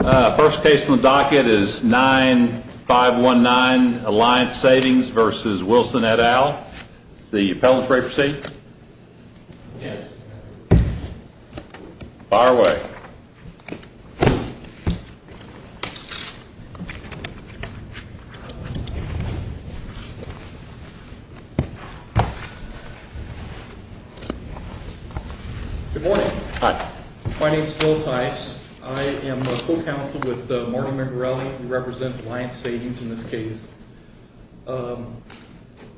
First case on the docket is 9519 Alliance Savings v. Wilson et al. Is the appellants ready to proceed? Yes. Fire away. Good morning. Hi. My name is Phil Tice. I am a co-counsel with Marty Mangarelli. We represent Alliance Savings in this case.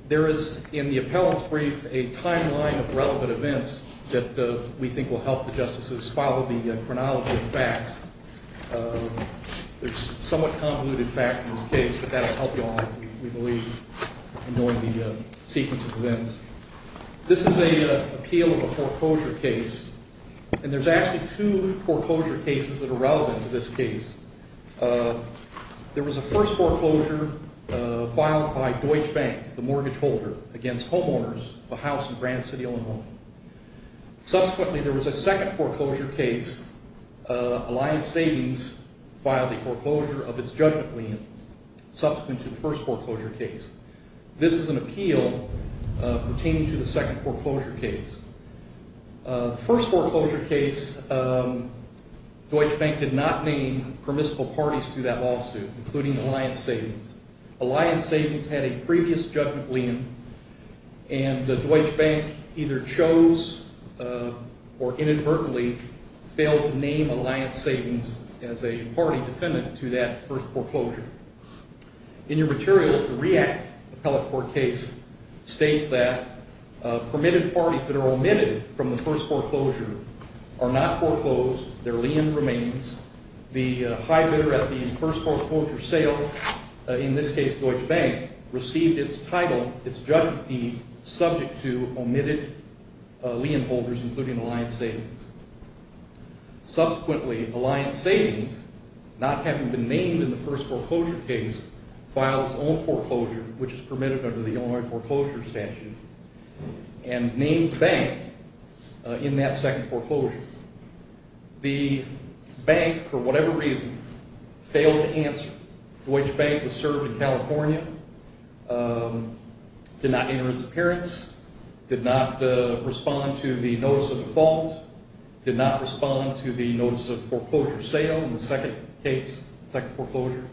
There is in the appellants' brief a timeline of relevant events that we think will help the justices follow the chronology of facts. There's somewhat convoluted facts in this case, but that will help you all, we believe, in knowing the sequence of events. This is an appeal of a foreclosure case. And there's actually two foreclosure cases that are relevant to this case. There was a first foreclosure filed by Deutsche Bank, the mortgage holder, against homeowners of a house in Granite City, Illinois. Subsequently, there was a second foreclosure case. Alliance Savings filed a foreclosure of its judgment lien subsequent to the first foreclosure case. This is an appeal pertaining to the second foreclosure case. The first foreclosure case, Deutsche Bank did not name permissible parties to that lawsuit, including Alliance Savings. Alliance Savings had a previous judgment lien, and Deutsche Bank either chose or inadvertently failed to name Alliance Savings as a party defendant to that first foreclosure. In your materials, the REACT appellate court case states that permitted parties that are omitted from the first foreclosure are not foreclosed. Their lien remains. The high bidder at the first foreclosure sale, in this case Deutsche Bank, received its title, its judgment fee, subject to omitted lien holders, including Alliance Savings. Subsequently, Alliance Savings, not having been named in the first foreclosure case, filed its own foreclosure, which is permitted under the Illinois foreclosure statute, and named Bank in that second foreclosure. The Bank, for whatever reason, failed to answer. Deutsche Bank was served in California, did not enter its appearance, did not respond to the notice of default, did not respond to the notice of foreclosure sale in the second case, second foreclosure.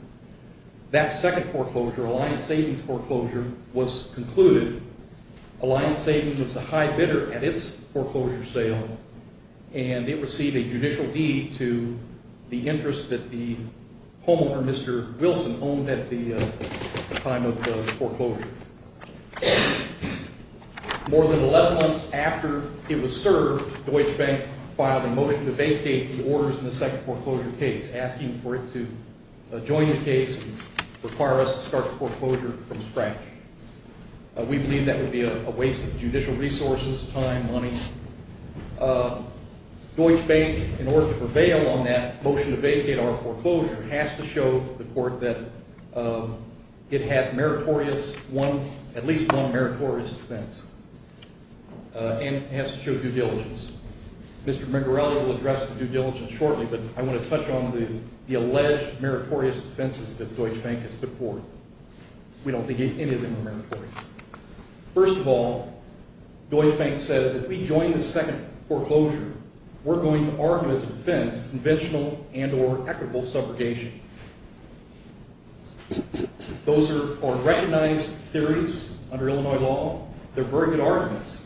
That second foreclosure, Alliance Savings foreclosure, was concluded. Alliance Savings was the high bidder at its foreclosure sale, and it received a judicial deed to the interest that the homeowner, Mr. Wilson, owned at the time of the foreclosure. More than 11 months after it was served, Deutsche Bank filed a motion to vacate the orders in the second foreclosure case, asking for it to join the case and require us to start the foreclosure from scratch. We believe that would be a waste of judicial resources, time, money. Deutsche Bank, in order to prevail on that motion to vacate our foreclosure, has to show the court that it has meritorious, at least one meritorious defense, and has to show due diligence. Mr. Mingarelli will address the due diligence shortly, but I want to touch on the alleged meritorious defenses that Deutsche Bank has put forth. We don't think any of them are meritorious. First of all, Deutsche Bank says, if we join the second foreclosure, we're going to argue as a defense conventional and or equitable subrogation. Those are recognized theories under Illinois law. They're very good arguments,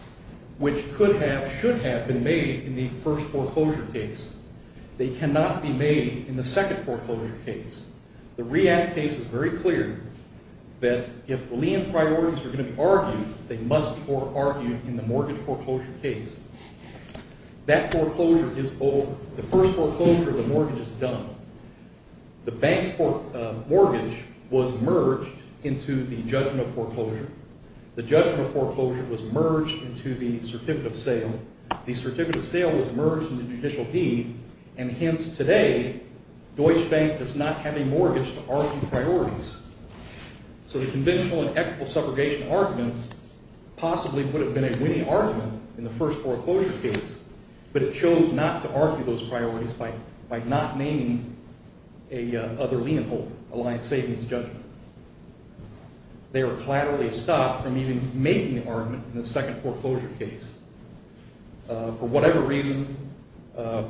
which could have, should have been made in the first foreclosure case. They cannot be made in the second foreclosure case. The REACT case is very clear that if lien priorities are going to be argued, they must be argued in the mortgage foreclosure case. That foreclosure is over. The first foreclosure, the mortgage is done. The bank's mortgage was merged into the judgment of foreclosure. The judgment of foreclosure was merged into the certificate of sale. The certificate of sale was merged into judicial deed, and hence, today, Deutsche Bank does not have a mortgage to argue priorities. So the conventional and equitable subrogation argument possibly would have been a winning argument in the first foreclosure case, but it chose not to argue those priorities by not naming a other lien holder, a line of savings judgment. They were collaterally stopped from even making the argument in the second foreclosure case. For whatever reason,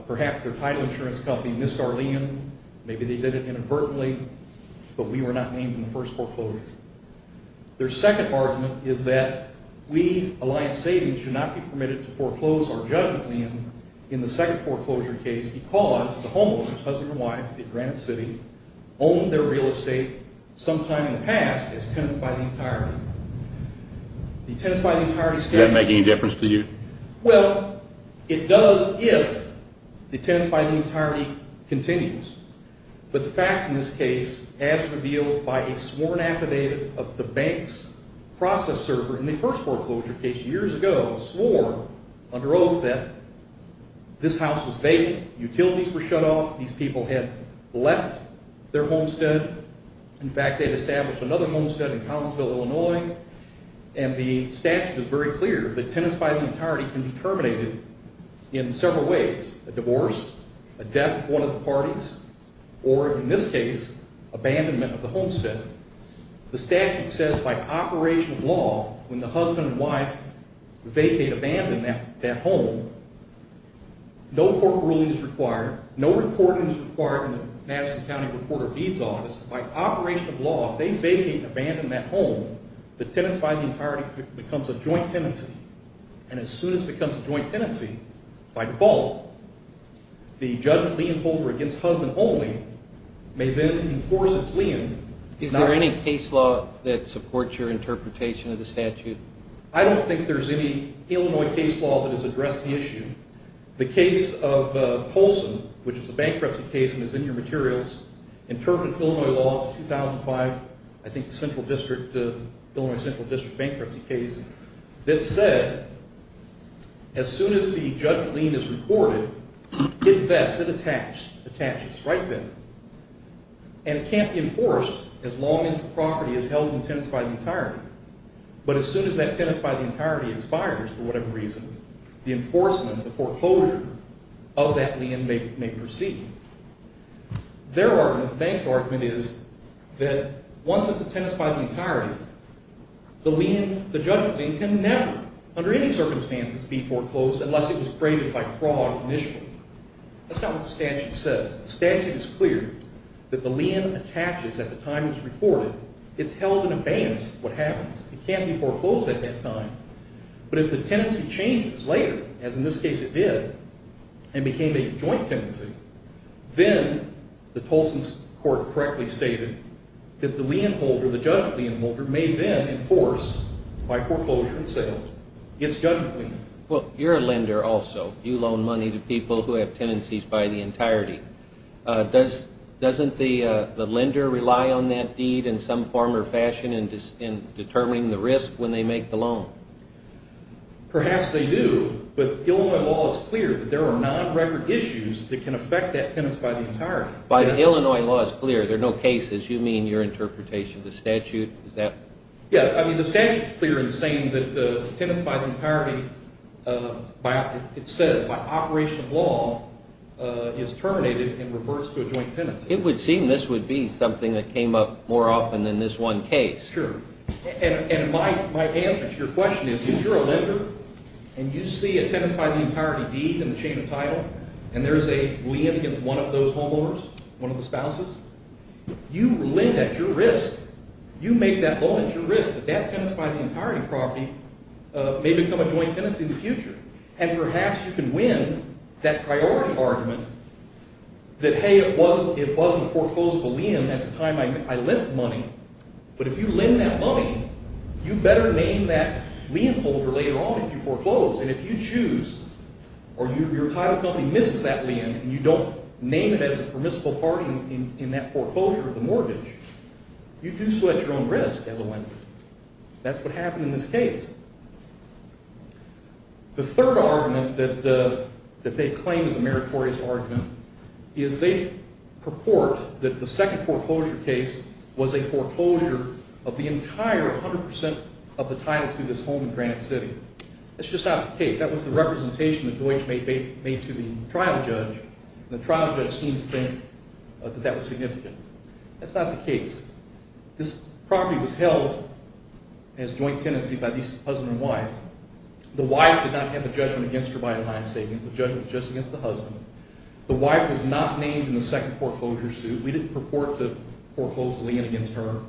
perhaps their title insurance company missed our lien. Maybe they did it inadvertently, but we were not named in the first foreclosure. Their second argument is that we, a line of savings, should not be permitted to foreclose our judgment lien in the second foreclosure case because the homeowner's husband or wife in Granite City owned their real estate sometime in the past as tenants by the entirety. The tenants by the entirety standard... Does that make any difference to you? Well, it does if the tenants by the entirety continues. But the facts in this case, as revealed by a sworn affidavit of the bank's process server in the first foreclosure case years ago, swore under oath that this house was vacant. Utilities were shut off. These people had left their homestead. In fact, they had established another homestead in Collinsville, Illinois, and the statute is very clear that tenants by the entirety can be terminated in several ways, a divorce, a death of one of the parties, or in this case, abandonment of the homestead. The statute says by operation of law, when the husband and wife vacate, abandon that home, no court ruling is required, no reporting is required in the Madison County Reporter-Beeds Office. By operation of law, if they vacate and abandon that home, the tenants by the entirety becomes a joint tenancy. And as soon as it becomes a joint tenancy, by default, the judgment lien holder against husband only may then enforce its lien. Is there any case law that supports your interpretation of the statute? I don't think there's any Illinois case law that has addressed the issue. The case of Colson, which was a bankruptcy case and is in your materials, interpreted Illinois law 2005, I think the Illinois Central District bankruptcy case, that said as soon as the judgment lien is reported, it vests, it attaches right then. And it can't be enforced as long as the property is held in tenants by the entirety. But as soon as that tenants by the entirety expires for whatever reason, the enforcement, the foreclosure of that lien may proceed. Their argument, the bank's argument is that once it's a tenants by the entirety, the judgment lien can never, under any circumstances, be foreclosed unless it was graded by fraud initially. That's not what the statute says. The statute is clear that the lien attaches at the time it's reported. It's held in abeyance of what happens. It can't be foreclosed at that time. But if the tenancy changes later, as in this case it did, and became a joint tenancy, then the Tolson court correctly stated that the lien holder, the judgment lien holder, may then enforce by foreclosure and sale its judgment lien. Well, you're a lender also. You loan money to people who have tenancies by the entirety. Doesn't the lender rely on that deed in some form or fashion in determining the risk when they make the loan? Perhaps they do. But Illinois law is clear that there are non-record issues that can affect that tenants by the entirety. But Illinois law is clear. There are no cases. You mean your interpretation of the statute? Yeah, I mean the statute is clear in saying that tenants by the entirety, it says by operation of law, is terminated in reverse to a joint tenancy. It would seem this would be something that came up more often than this one case. Sure. And my answer to your question is if you're a lender and you see a tenants by the entirety deed in the chain of title and there's a lien against one of those homeowners, one of the spouses, you lend at your risk. You make that loan at your risk that that tenants by the entirety property may become a joint tenancy in the future. And perhaps you can win that priority argument that, hey, it wasn't a foreclosable lien at the time I lent money. But if you lend that money, you better name that lien holder later on if you foreclose. And if you choose or your title company misses that lien and you don't name it as a permissible party in that foreclosure, the mortgage, you do so at your own risk as a lender. That's what happened in this case. The third argument that they claim is a meritorious argument is they purport that the second foreclosure case was a foreclosure of the entire 100% of the title to this home in Granite City. That's just not the case. That was the representation that Deutch made to the trial judge, and the trial judge seemed to think that that was significant. That's not the case. This property was held as joint tenancy by the husband and wife. The wife did not have a judgment against her by a line savings, a judgment just against the husband. The wife was not named in the second foreclosure suit. We didn't purport to foreclose a lien against her.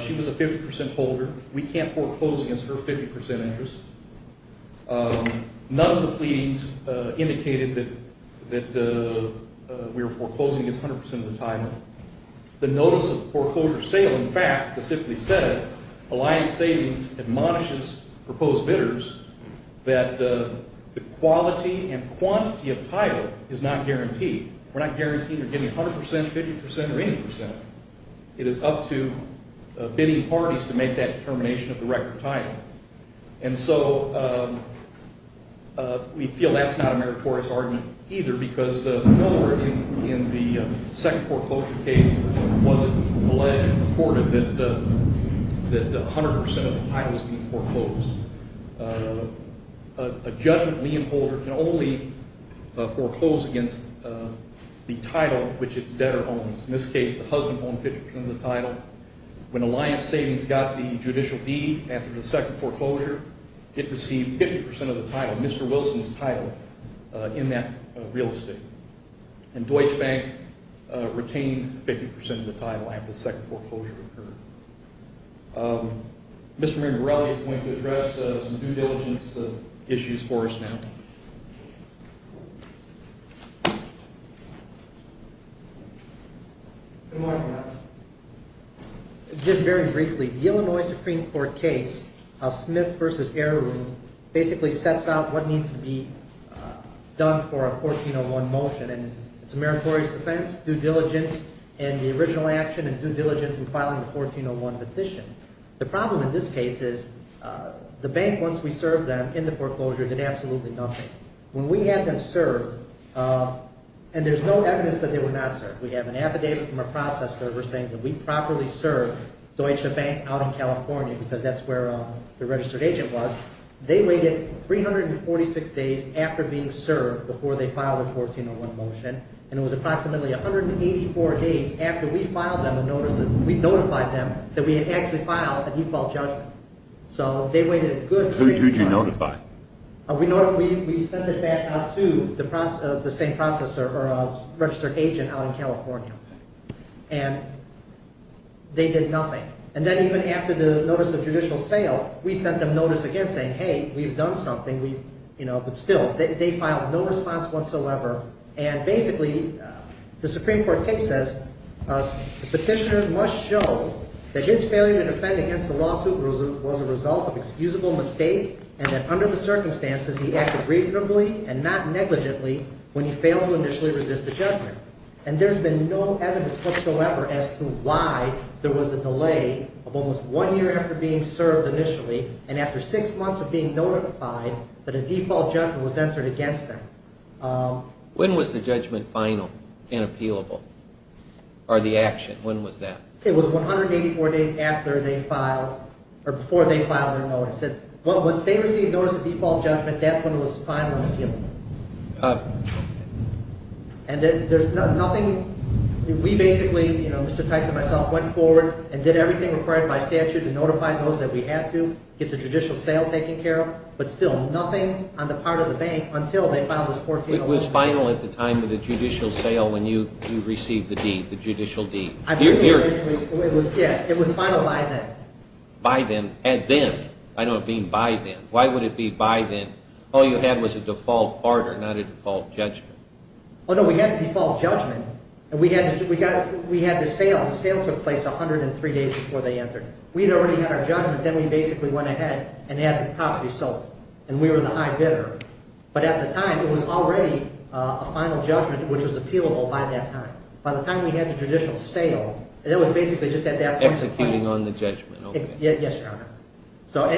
She was a 50% holder. We can't foreclose against her 50% interest. None of the pleadings indicated that we were foreclosing against 100% of the title. The notice of foreclosure sale, in fact, specifically said it. A lien savings admonishes proposed bidders that the quality and quantity of title is not guaranteed. We're not guaranteeing they're getting 100%, 50%, or 80%. It is up to bidding parties to make that determination of the record title. And so we feel that's not a meritorious argument either because nowhere in the second foreclosure case was it alleged or reported that 100% of the title was being foreclosed. A judgment lien holder can only foreclose against the title which its debtor owns. In this case, the husband owned 50% of the title. When a lien savings got the judicial deed after the second foreclosure, it received 50% of the title, Mr. Wilson's title, in that real estate. And Deutsche Bank retained 50% of the title after the second foreclosure occurred. Mr. Mirabelli is going to address some due diligence issues for us now. Good morning, Your Honor. Just very briefly, the Illinois Supreme Court case of Smith v. Erron basically sets out what needs to be done for a 1401 motion. And it's a meritorious defense, due diligence in the original action, and due diligence in filing a 1401 petition. The problem in this case is the bank, once we served them in the foreclosure, did absolutely nothing. When we had them serve, and there's no evidence that they were not served. We have an affidavit from a process server saying that we properly served Deutsche Bank out in California because that's where the registered agent was. They waited 346 days after being served before they filed a 1401 motion, and it was approximately 184 days after we notified them that we had actually filed a default judgment. Who did you notify? We sent it back out to the same register agent out in California, and they did nothing. And then even after the notice of judicial sale, we sent them notice again saying, hey, we've done something, but still, they filed no response whatsoever. And basically, the Supreme Court case says the petitioner must show that his failure to defend against the lawsuit was a result of excusable mistake, and that under the circumstances, he acted reasonably and not negligently when he failed to initially resist the judgment. And there's been no evidence whatsoever as to why there was a delay of almost one year after being served initially, and after six months of being notified that a default judgment was entered against them. When was the judgment final and appealable, or the action? When was that? It was 184 days after they filed, or before they filed their notice. Once they received notice of default judgment, that's when it was final and appealable. And then there's nothing, we basically, you know, Mr. Tyson, myself, went forward and did everything required by statute to notify those that we had to, get the judicial sale taken care of, but still, nothing on the part of the bank until they filed this 14-year-old case. It was final at the time of the judicial sale when you received the deed, the judicial deed. It was final by then. By then, and then, I don't mean by then. Why would it be by then? All you had was a default order, not a default judgment. Oh, no, we had the default judgment, and we had the sale. The sale took place 103 days before they entered. We had already had our judgment, then we basically went ahead and had the property sold. And we were the high bidder. But at the time, it was already a final judgment which was appealable by that time. By the time we had the judicial sale, it was basically just at that point. Executing on the judgment, okay. Yes, Your Honor.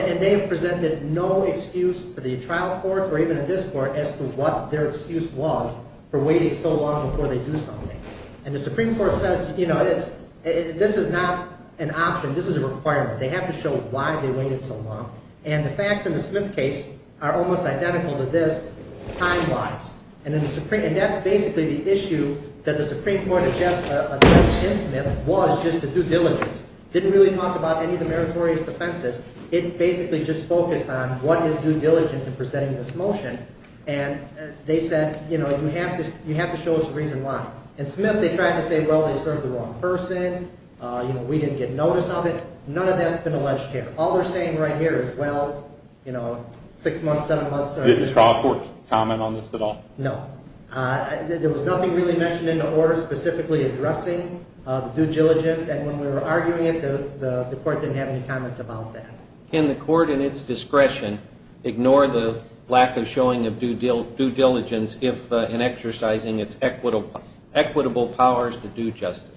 And they've presented no excuse to the trial court or even to this court as to what their excuse was for waiting so long before they do something. And the Supreme Court says, you know, this is not an option. This is a requirement. They have to show why they waited so long. And the facts in the Smith case are almost identical to this time-wise. And that's basically the issue that the Supreme Court addressed in Smith was just the due diligence. It didn't really talk about any of the meritorious defenses. It basically just focused on what is due diligence in presenting this motion. And they said, you know, you have to show us a reason why. In Smith, they tried to say, well, they served the wrong person. You know, we didn't get notice of it. None of that's been alleged here. All they're saying right here is, well, you know, six months, seven months. Did the trial court comment on this at all? No. There was nothing really mentioned in the order specifically addressing the due diligence. And when we were arguing it, the court didn't have any comments about that. Can the court in its discretion ignore the lack of showing of due diligence in exercising its equitable powers to do justice?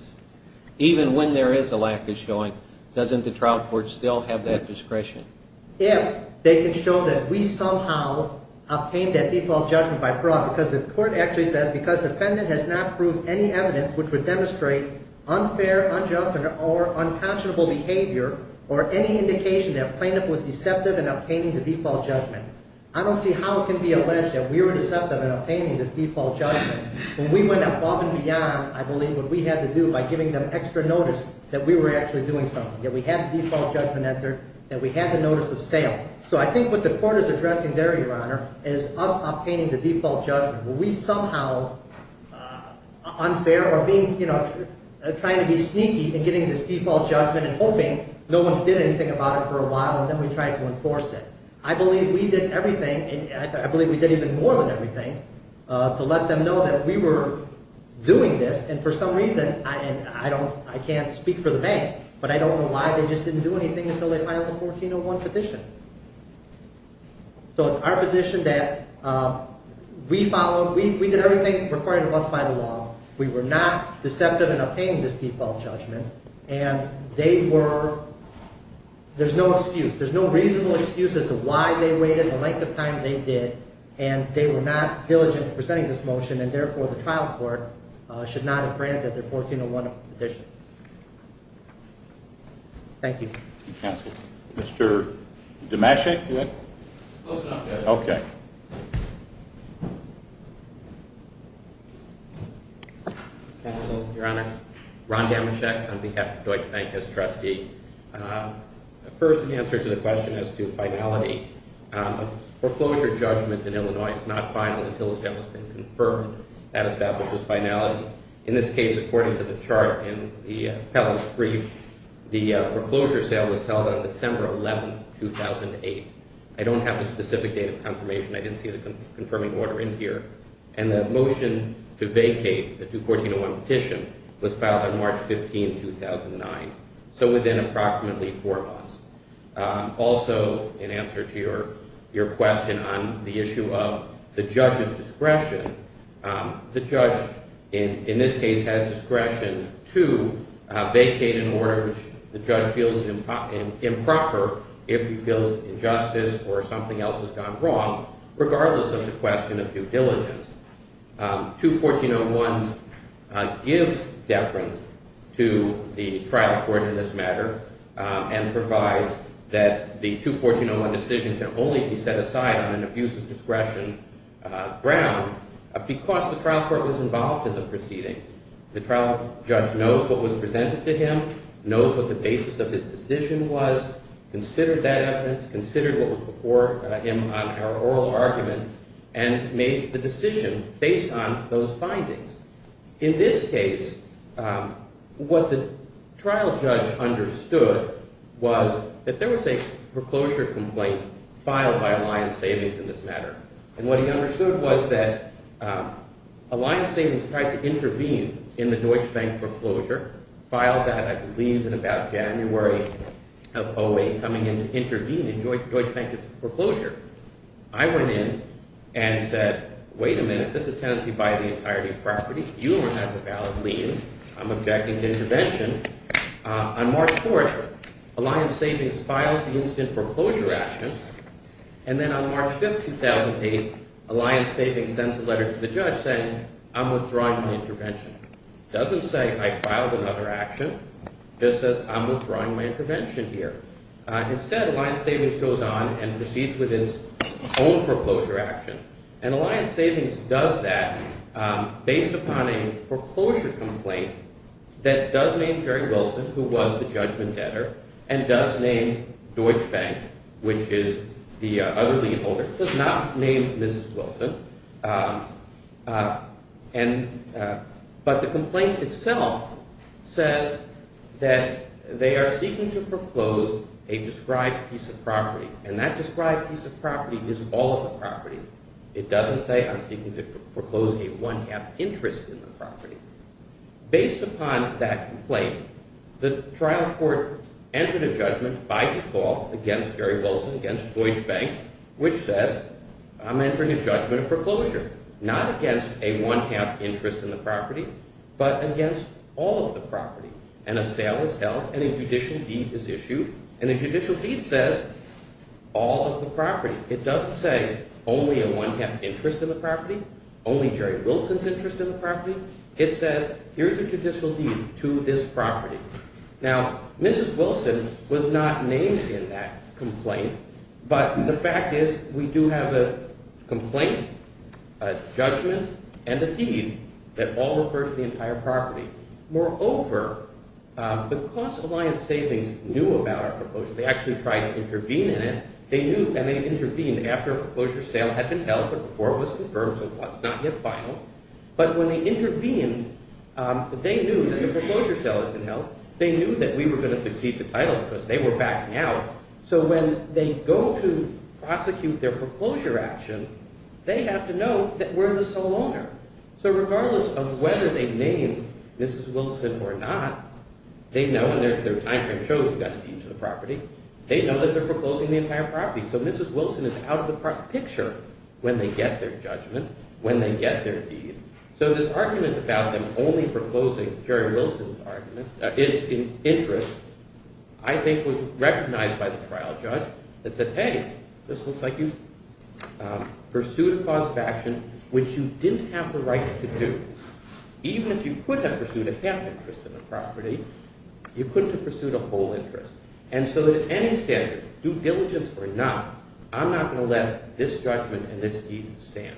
Even when there is a lack of showing, doesn't the trial court still have that discretion? If they can show that we somehow obtained that default judgment by fraud, because the defendant has not proved any evidence which would demonstrate unfair, unjust, or unconscionable behavior or any indication that a plaintiff was deceptive in obtaining the default judgment, I don't see how it can be alleged that we were deceptive in obtaining this default judgment. When we went above and beyond, I believe, what we had to do by giving them extra notice that we were actually doing something, that we had the default judgment entered, that we had the notice of sale. So I think what the court is addressing there, Your Honor, is us obtaining the default judgment. Were we somehow unfair or being, you know, trying to be sneaky in getting this default judgment and hoping no one did anything about it for a while and then we tried to enforce it? I believe we did everything. I believe we did even more than everything to let them know that we were doing this. And for some reason, and I can't speak for the bank, but I don't know why they just didn't do anything until they filed a 1401 petition. So it's our position that we followed, we did everything required of us by the law. We were not deceptive in obtaining this default judgment and they were, there's no excuse, there's no reasonable excuse as to why they waited the length of time they did and they were not diligent in presenting this motion and therefore the trial court should not have granted their 1401 petition. Thank you. Thank you, counsel. Mr. Demachek, do you have? Close enough, Judge. Okay. Counsel, Your Honor, Ron Demachek on behalf of Deutsche Bank as trustee. First, in answer to the question as to finality, foreclosure judgment in Illinois is not final until the sale has been confirmed. That establishes finality. In this case, according to the chart in the appellant's brief, the foreclosure sale was held on December 11, 2008. I don't have the specific date of confirmation. I didn't see the confirming order in here. And the motion to vacate the 214-01 petition was filed on March 15, 2009. So within approximately four months. Also, in answer to your question on the issue of the judge's discretion, the judge in this case has discretion to vacate an order which the judge feels improper if he feels injustice or something else has gone wrong, regardless of the question of due diligence. 214-01 gives deference to the trial court in this matter and provides that the 214-01 decision can only be set aside on an abusive discretion ground because the trial court was involved in the proceeding. The trial judge knows what was presented to him, knows what the basis of his decision was, considered that evidence, considered what was before him on our oral argument, and made the decision based on those findings. In this case, what the trial judge understood was that there was a foreclosure complaint filed by Alliance Savings in this matter. And what he understood was that Alliance Savings tried to intervene in the Deutsche Bank foreclosure, filed that, I believe, in about January of 2008, coming in to intervene in Deutsche Bank's foreclosure. I went in and said, wait a minute, this is tenancy by the entirety of property. You don't have a valid lien. I'm objecting to intervention. On March 4th, Alliance Savings files the incident foreclosure action. And then on March 5th, 2008, Alliance Savings sends a letter to the judge saying, I'm withdrawing the intervention. It doesn't say, I filed another action. It just says, I'm withdrawing my intervention here. Instead, Alliance Savings goes on and proceeds with his own foreclosure action. And Alliance Savings does that based upon a foreclosure complaint that does name Jerry Wilson, who was the judgment debtor, and does name Deutsche Bank, which is the other lien holder, does not name Mrs. Wilson. But the complaint itself says that they are seeking to foreclose a described piece of property. And that described piece of property is all of the property. It doesn't say, I'm seeking to foreclose a one-half interest in the property. Based upon that complaint, the trial court entered a judgment by default against Jerry Wilson, against Deutsche Bank, which says, I'm entering a judgment of foreclosure, not against a one-half interest in the property, but against all of the property. And a sale is held, and a judicial deed is issued. And the judicial deed says, all of the property. It doesn't say, only a one-half interest in the property, only Jerry Wilson's interest in the property. Now, Mrs. Wilson was not named in that complaint. But the fact is, we do have a complaint, a judgment, and a deed that all refer to the entire property. Moreover, because Alliance Savings knew about our foreclosure, they actually tried to intervene in it, and they intervened after a foreclosure sale had been held, but before it was confirmed, so it was not yet final. But when they intervened, they knew that the foreclosure sale had been held. They knew that we were going to succeed to title because they were backing out. So when they go to prosecute their foreclosure action, they have to know that we're the sole owner. So regardless of whether they name Mrs. Wilson or not, they know, and their time frame shows we've got a deed to the property, they know that they're foreclosing the entire property. So Mrs. Wilson is out of the picture when they get their judgment, when they get their deed. So this argument about them only foreclosing Jerry Wilson's interest I think was recognized by the trial judge that said, hey, this looks like you pursued a cause of action which you didn't have the right to do. Even if you could have pursued a half interest in the property, you couldn't have pursued a whole interest. And so at any standard, due diligence or not, I'm not going to let this judgment and this deed stand.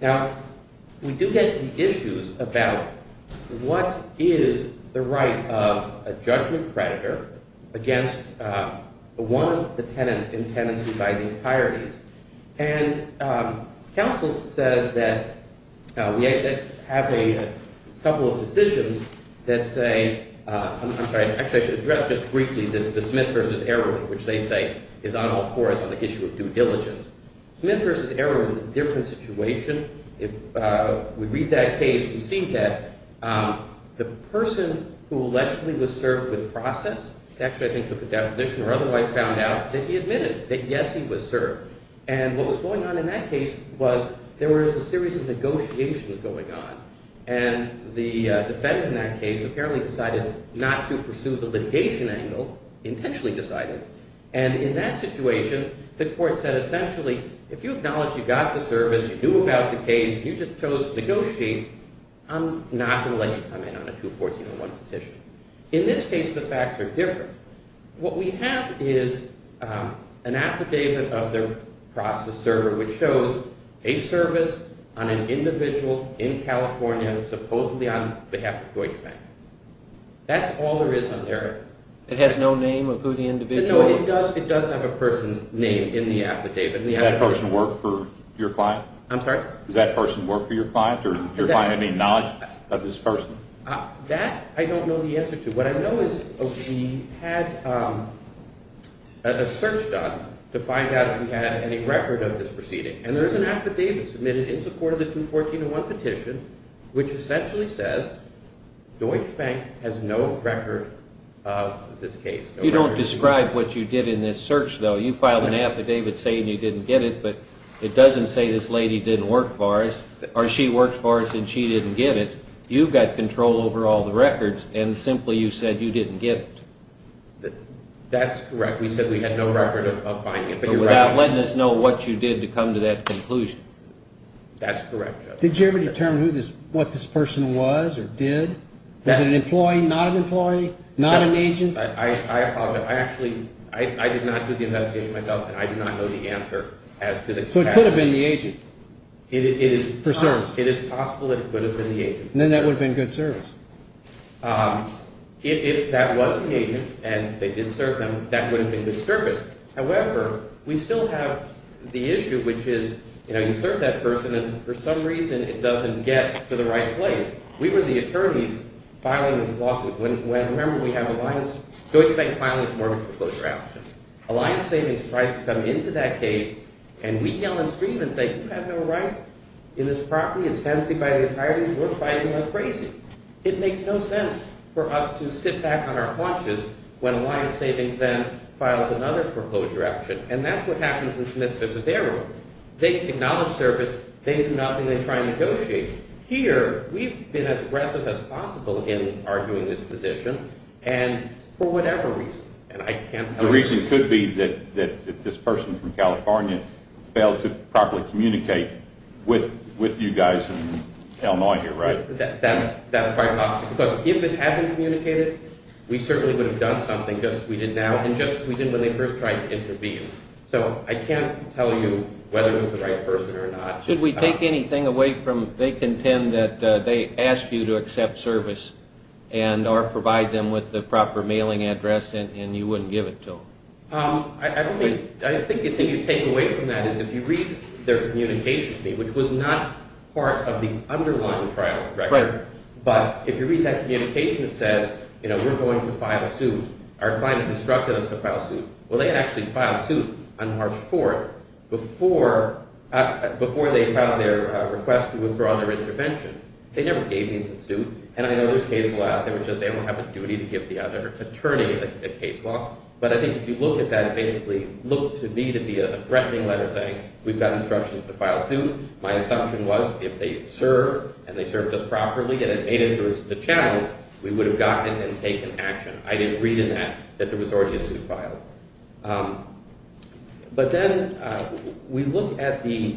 Now, we do get to the issues about what is the right of a judgment predator against one of the tenants in tenancy by the entirety. And counsel says that we have a couple of decisions that say, I'm sorry, actually I should address just briefly the Smith versus Erwin, which they say is on all fours on the issue of due diligence. Smith versus Erwin is a different situation. If we read that case, we see that the person who allegedly was served with process, actually I think took a deposition or otherwise found out, that he admitted that, yes, he was served. And what was going on in that case was there was a series of negotiations going on. And the defendant in that case apparently decided not to pursue the litigation angle, intentionally decided. And in that situation, the court said essentially, if you acknowledge you got the service, you knew about the case, and you just chose to negotiate, I'm not going to let you come in on a 214.1 petition. In this case, the facts are different. What we have is an affidavit of their process server which shows a service on an individual in California, supposedly on behalf of Deutsche Bank. That's all there is on there. It has no name of who the individual is? No, it does have a person's name in the affidavit. Does that person work for your client? I'm sorry? Does that person work for your client or do you have any knowledge of this person? That I don't know the answer to. What I know is we had a search done to find out if we had any record of this proceeding. And there is an affidavit submitted in support of the 214.1 petition, which essentially says Deutsche Bank has no record of this case. You don't describe what you did in this search, though. You filed an affidavit saying you didn't get it, but it doesn't say this lady didn't work for us, or she worked for us and she didn't get it. You've got control over all the records, and simply you said you didn't get it. That's correct. We said we had no record of finding it. But without letting us know what you did to come to that conclusion. That's correct, Judge. Did you ever determine what this person was or did? Was it an employee, not an employee, not an agent? I apologize. I actually did not do the investigation myself, and I did not know the answer as to the question. So it could have been the agent? It is possible it could have been the agent. Then that would have been good service. If that was the agent and they did serve him, that would have been good service. However, we still have the issue, which is, you know, you serve that person, and for some reason it doesn't get to the right place. We were the attorneys filing this lawsuit. Remember, we have an alliance. Deutsche Bank is filing a mortgage foreclosure action. Alliance Savings tries to come into that case, and we yell and scream and say, You have no right in this property. It's fencing by the attorneys. We're fighting like crazy. It makes no sense for us to sit back on our haunches when Alliance Savings then files another foreclosure action, and that's what happens in Smith v. Arrow. They acknowledge service. They do nothing. They try and negotiate. Here, we've been as aggressive as possible in arguing this position, and for whatever reason, and I can't tell you. It could be that this person from California failed to properly communicate with you guys in Illinois here, right? That's quite possible, because if it hadn't communicated, we certainly would have done something just as we did now and just as we did when they first tried to intervene. So I can't tell you whether it was the right person or not. Should we take anything away from they contend that they asked you to accept service or provide them with the proper mailing address and you wouldn't give it to them? I think the thing you take away from that is if you read their communication, which was not part of the underlying trial record, but if you read that communication, it says, you know, we're going to file suit. Our client has instructed us to file suit. Well, they had actually filed suit on March 4th before they filed their request to withdraw their intervention. They never gave me the suit, and I know there's case law out there, which is they don't have a duty to give the other attorney a case law, but I think if you look at that, it basically looked to me to be a threatening letter saying, we've got instructions to file suit. My assumption was if they served and they served us properly and it made it through the channels, we would have gotten and taken action. I didn't read in that that there was already a suit filed. But then we look at the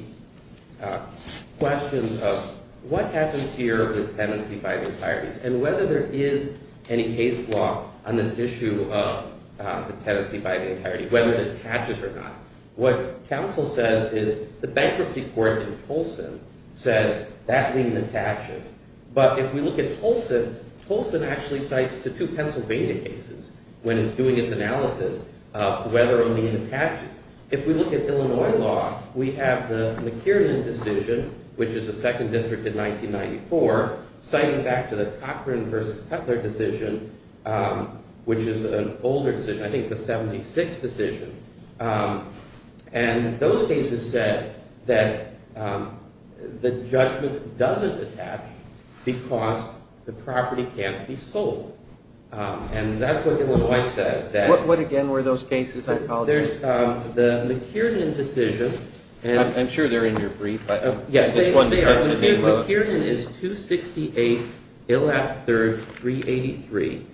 question of what happens here with tenancy by the entirety and whether there is any case law on this issue of the tenancy by the entirety, whether it attaches or not. What counsel says is the bankruptcy court in Tolson says that means it attaches, but if we look at Tolson, Tolson actually cites the two Pennsylvania cases when it's doing its analysis of whether or not it attaches. If we look at Illinois law, we have the McKiernan decision, which is the second district in 1994, citing back to the Cochran v. Cutler decision, which is an older decision, I think it's a 76 decision, and those cases said that the judgment doesn't attach because the property can't be sold. And that's what Illinois says. What again were those cases? There's the McKiernan decision. I'm sure they're in your brief. Yeah, they are. McKiernan is 268, Illap III, 383.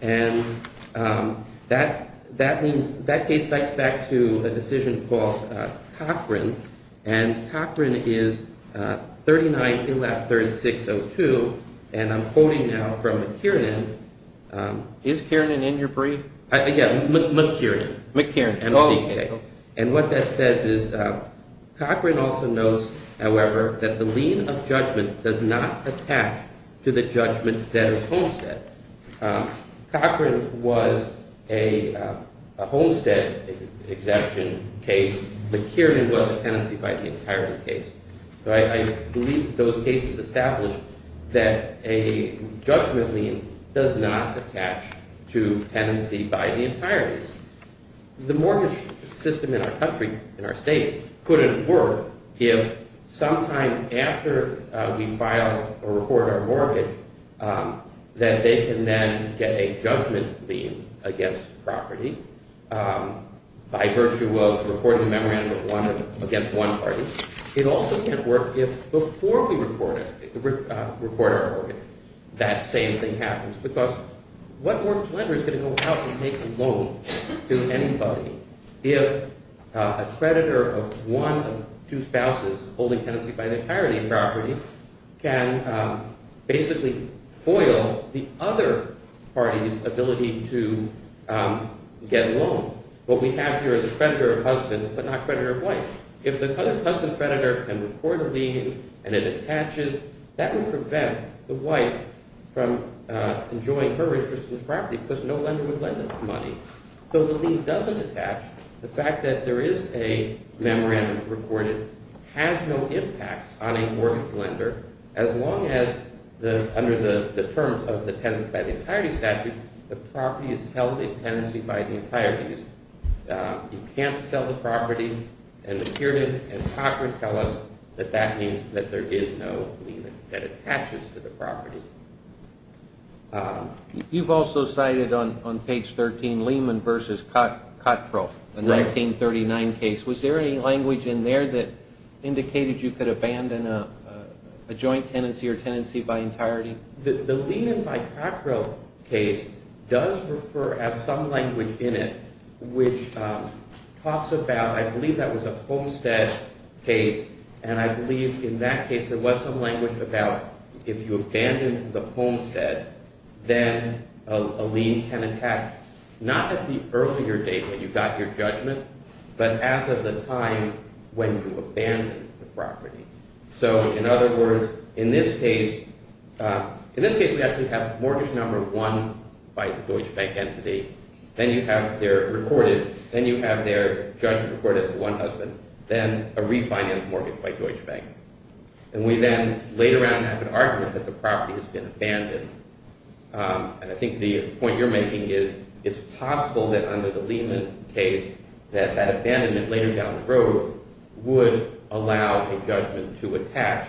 And that case cites back to a decision called Cochran, and Cochran is 39, Illap III, 602. And I'm quoting now from McKiernan. Is McKiernan in your brief? Yeah, McKiernan, MCK. And what that says is Cochran also knows, however, that the lien of judgment does not attach to the judgment that is homestead. Cochran was a homestead exception case. McKiernan was a tenancy by the entirety case. So I believe those cases establish that a judgment lien does not attach to tenancy by the entirety. The mortgage system in our country, in our state, couldn't work if sometime after we file or report our mortgage that they can then get a judgment lien against property by virtue of reporting a memorandum against one party. It also can't work if before we report our mortgage that same thing happens because what works lender is going to go out and make a loan to anybody if a creditor of one of two spouses holding tenancy by the entirety of property can basically foil the other party's ability to get a loan. What we have here is a creditor of husband but not creditor of wife. If the husband creditor can report a lien and it attaches, that would prevent the wife from enjoying her interest in the property because no lender would lend that money. So the lien doesn't attach. The fact that there is a memorandum recorded has no impact on a mortgage lender as long as under the terms of the tenancy by the entirety statute, the property is held in tenancy by the entirety. You can't sell the property. And the Kiernan and Cockrell tell us that that means that there is no lien that attaches to the property. You've also cited on page 13, Lehman v. Cottrell, a 1939 case. Was there any language in there that indicated you could abandon a joint tenancy or tenancy by entirety? The Lehman v. Cottrell case does refer as some language in it which talks about, I believe that was a Homestead case, and I believe in that case there was some language about if you abandon the Homestead, then a lien can attach not at the earlier date when you got your judgment but as of the time when you abandoned the property. So in other words, in this case we actually have mortgage number one by the Deutsche Bank entity, then you have their judgment recorded as the one husband, then a refinanced mortgage by Deutsche Bank. And we then later on have an argument that the property has been abandoned. And I think the point you're making is it's possible that under the Lehman case that that abandonment later down the road would allow a judgment to attach.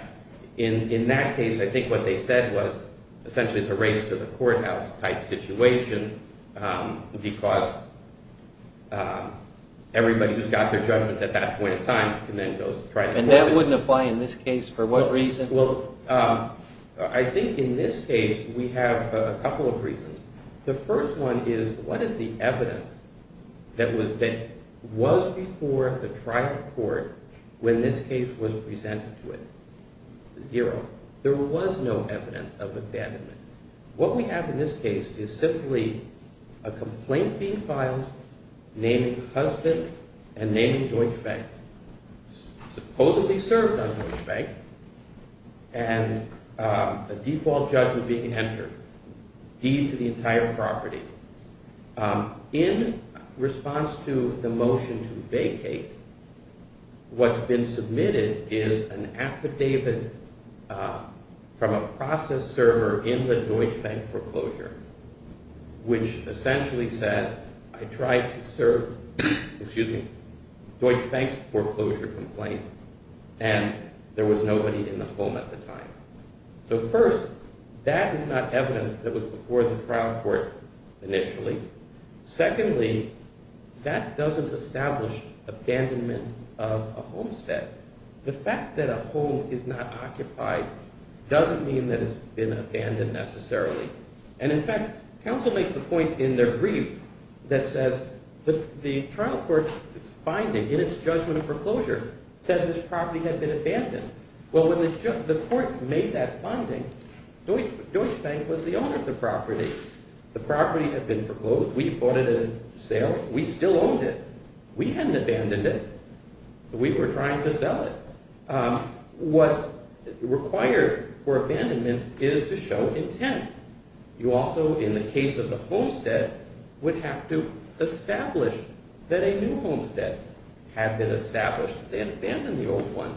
In that case I think what they said was essentially it's a race to the courthouse type situation because everybody who's got their judgment at that point in time can then go try to force it. And that wouldn't apply in this case for what reason? Well, I think in this case we have a couple of reasons. The first one is what is the evidence that was before the trial court when this case was presented to it? Zero. There was no evidence of abandonment. What we have in this case is simply a complaint being filed naming husband and naming Deutsche Bank. Supposedly served on Deutsche Bank and a default judgment being entered. D to the entire property. In response to the motion to vacate, what's been submitted is an affidavit from a process server in the Deutsche Bank foreclosure which essentially says I tried to serve Deutsche Bank's foreclosure complaint and there was nobody in the home at the time. So first, that is not evidence that was before the trial court initially. Secondly, that doesn't establish abandonment of a homestead. The fact that a home is not occupied doesn't mean that it's been abandoned necessarily. And in fact, counsel makes the point in their brief that says the trial court's finding in its judgment of foreclosure says this property had been abandoned. Well, when the court made that finding, Deutsche Bank was the owner of the property. The property had been foreclosed. We bought it at a sale. We still owned it. We hadn't abandoned it. We were trying to sell it. What's required for abandonment is to show intent. You also, in the case of the homestead, would have to establish that a new homestead had been established rather than abandon the old one.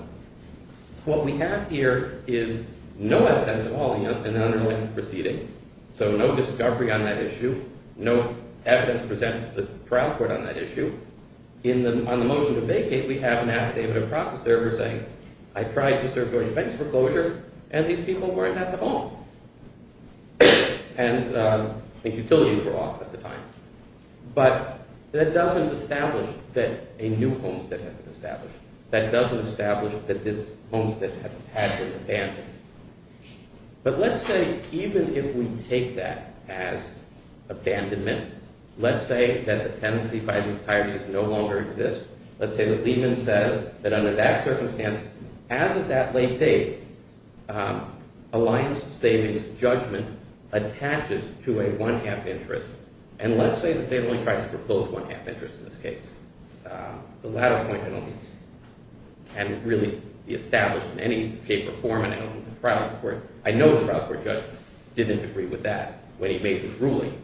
What we have here is no evidence at all in the underlying proceedings. So no discovery on that issue. No evidence presented to the trial court on that issue. On the motion to vacate, we have an affidavit of process there saying I tried to serve Deutsche Bank's foreclosure and these people weren't at the home. And the utilities were off at the time. But that doesn't establish that a new homestead had been established. That doesn't establish that this homestead had been abandoned. But let's say even if we take that as abandonment, let's say that the tenancy by the entirety no longer exists. Let's say that Lehman says that under that circumstance, as of that late date, Alliance Stavings' judgment attaches to a one-half interest. And let's say that they've only tried to propose one-half interest in this case. The latter point can really be established in any shape or form. I know the trial court judge didn't agree with that when he made his ruling.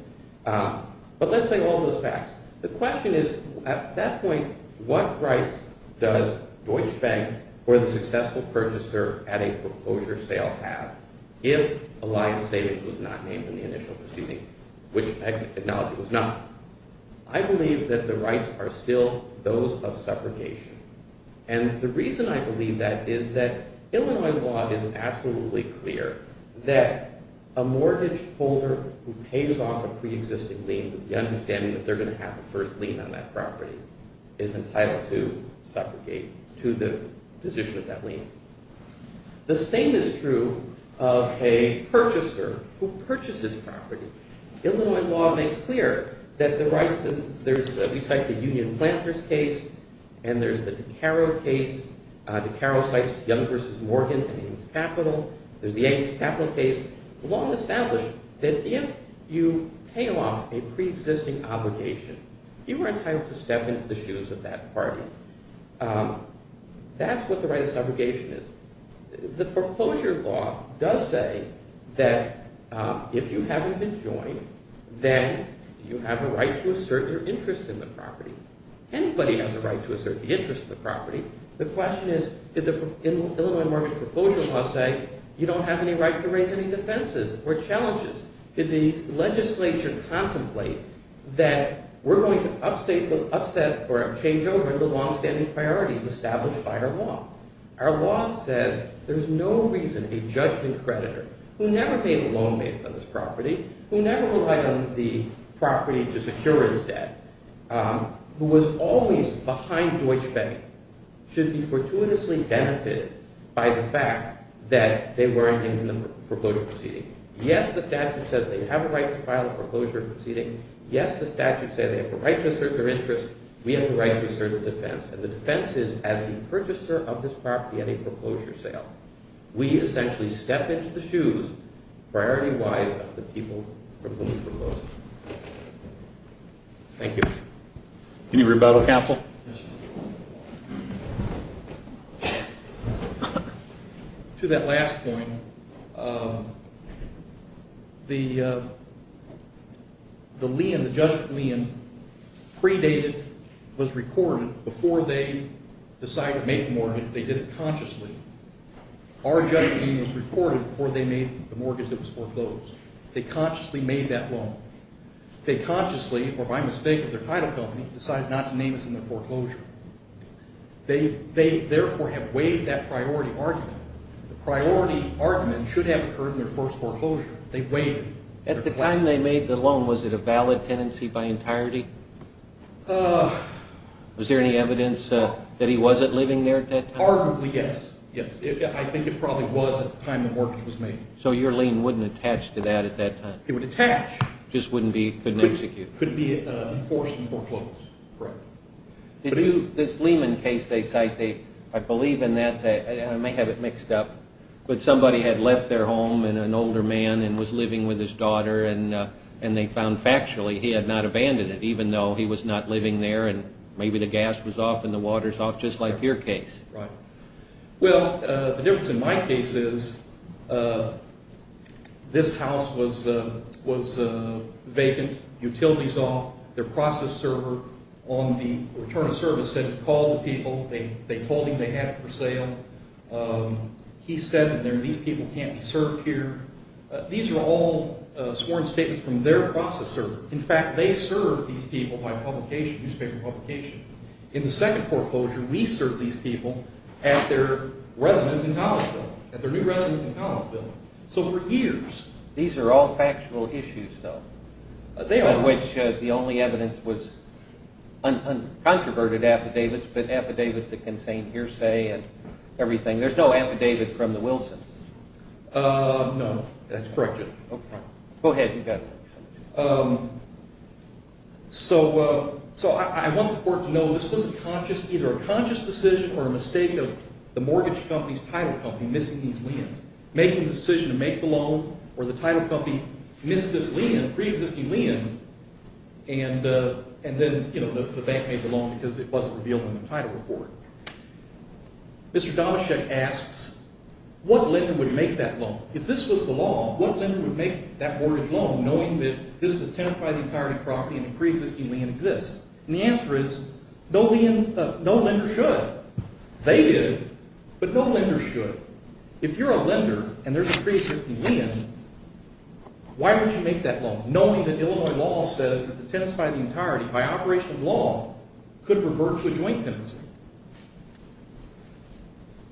But let's say all those facts. The question is, at that point, what rights does Deutsche Bank or the successful purchaser at a foreclosure sale have if Alliance Stavings was not named in the initial proceeding, which technology was not? I believe that the rights are still those of separation. And the reason I believe that is that Illinois law is absolutely clear that a mortgage holder who pays off a preexisting lien with the understanding that they're going to have a first lien on that property is entitled to separate to the position of that lien. The same is true of a purchaser who purchases property. Illinois law makes clear that the rights that there's, if you take the Union Planters case, and there's the DeCaro case, DeCaro cites Young v. Morgan and its capital, there's the ancient capital case, the law established that if you pay off a preexisting obligation, you are entitled to step into the shoes of that party. That's what the right of segregation is. The foreclosure law does say that if you haven't been joined, then you have a right to assert your interest in the property. The question is, did the Illinois mortgage foreclosure law say you don't have any right to raise any defenses or challenges? Did the legislature contemplate that we're going to upset or change over the longstanding priorities established by our law? Our law says there's no reason a judgment creditor who never paid a loan based on his property, who never relied on the property to secure his debt, who was always behind Deutsche Bank, should be fortuitously benefited by the fact that they weren't in the foreclosure proceeding. Yes, the statute says they have a right to file a foreclosure proceeding. Yes, the statute says they have a right to assert their interest. We have a right to assert a defense, and the defense is as the purchaser of this property at a foreclosure sale, we essentially step into the shoes, priority-wise, of the people who are going to be foreclosed. Thank you. Any rebuttal? To that last point, the lien, the judgment lien, predated, was recorded before they decided to make the mortgage. They did it consciously. Our judgment lien was recorded before they made the mortgage that was foreclosed. They consciously made that loan. They consciously, or by mistake of their title company, decided not to name this in their foreclosure. They, therefore, have waived that priority argument. The priority argument should have occurred in their first foreclosure. They waived it. At the time they made the loan, was it a valid tenancy by entirety? Was there any evidence that he wasn't living there at that time? Arguably, yes. Yes. I think it probably was at the time the mortgage was made. So your lien wouldn't attach to that at that time? It would attach. Just wouldn't be, couldn't execute? Couldn't be enforced in foreclosure. Correct. This Lehman case they cite, I believe in that. I may have it mixed up. But somebody had left their home, an older man, and was living with his daughter, and they found factually he had not abandoned it, even though he was not living there, and maybe the gas was off and the water was off, just like your case. Right. Well, the difference in my case is this house was vacant, utilities off, their process server on the return of service said to call the people. They told him they had it for sale. He said that these people can't be served here. These are all sworn statements from their process server. In fact, they serve these people by publication, newspaper publication. In the second foreclosure, we served these people at their residence in Collinsville, at their new residence in Collinsville. So for years. These are all factual issues, though, in which the only evidence was uncontroverted affidavits, but affidavits that contained hearsay and everything. There's no affidavit from the Wilson. No, that's correct. Okay. Go ahead. So I want the court to know this was either a conscious decision or a mistake of the mortgage company's title company missing these liens, making the decision to make the loan where the title company missed this lien, and then the bank made the loan because it wasn't revealed in the title report. Mr. Domashek asks, what lender would make that loan? If this was the law, what lender would make that mortgage loan, knowing that this is a tenancy by the entirety of the property and a preexisting lien exists? And the answer is no lender should. They did, but no lender should. If you're a lender and there's a preexisting lien, why would you make that loan, knowing that Illinois law says that the tenants by the entirety, by operation of law, could revert to a joint tenancy?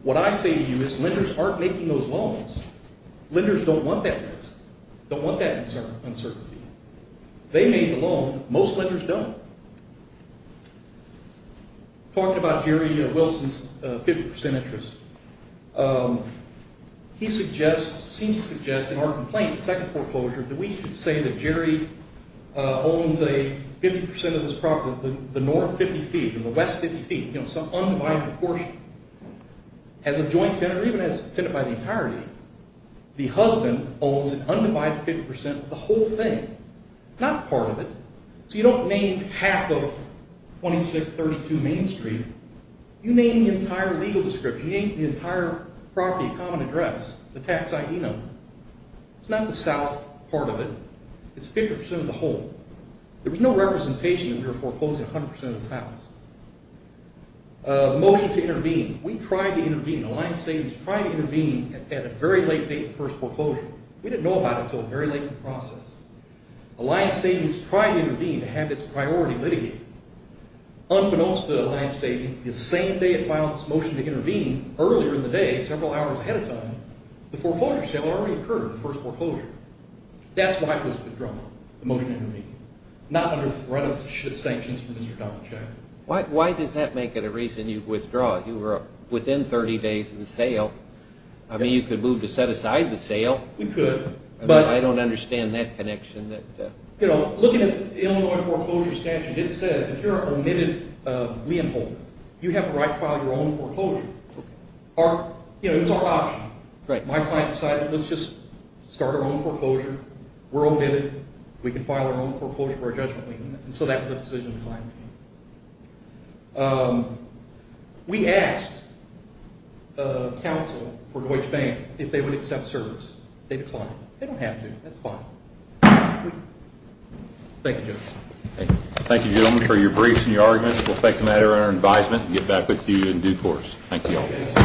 What I say to you is lenders aren't making those loans. Lenders don't want that risk, don't want that uncertainty. They made the loan. Most lenders don't. Talking about Jerry Wilson's 50% interest, he seems to suggest in our complaint, second foreclosure, that we should say that Jerry owns 50% of this property, the north 50 feet or the west 50 feet, some undivided proportion, has a joint tenant or even has a tenant by the entirety. The husband owns an undivided 50% of the whole thing, not part of it. So you don't name half of 2632 Main Street. You name the entire legal description. You name the entire property common address, the tax ID number. It's not the south part of it. It's 50% of the whole. There was no representation that we were foreclosing 100% of this house. The motion to intervene. We tried to intervene. Alliance Savings tried to intervene at a very late date in the first foreclosure. We didn't know about it until very late in the process. Alliance Savings tried to intervene to have its priority litigated. Unbeknownst to Alliance Savings, the same day it filed its motion to intervene, earlier in the day, several hours ahead of time, the foreclosure sale had already occurred, the first foreclosure. That's why it was withdrawn, the motion to intervene, not under threat of sanctions from Mr. Donald Jackson. Why does that make it a reason you withdraw it? You were within 30 days of the sale. I mean you could move to set aside the sale. We could. I don't understand that connection. Looking at the Illinois foreclosure statute, it says if you're an omitted lien holder, you have the right to file your own foreclosure. It was our option. My client decided, let's just start our own foreclosure. We're omitted. We can file our own foreclosure for our judgment lien. And so that was a decision we made. We asked counsel for Deutsche Bank if they would accept service. They declined. They don't have to. That's fine. Thank you, Joe. Thank you, gentlemen, for your briefs and your arguments. We'll take a matter under advisement and get back with you in due course. Thank you all.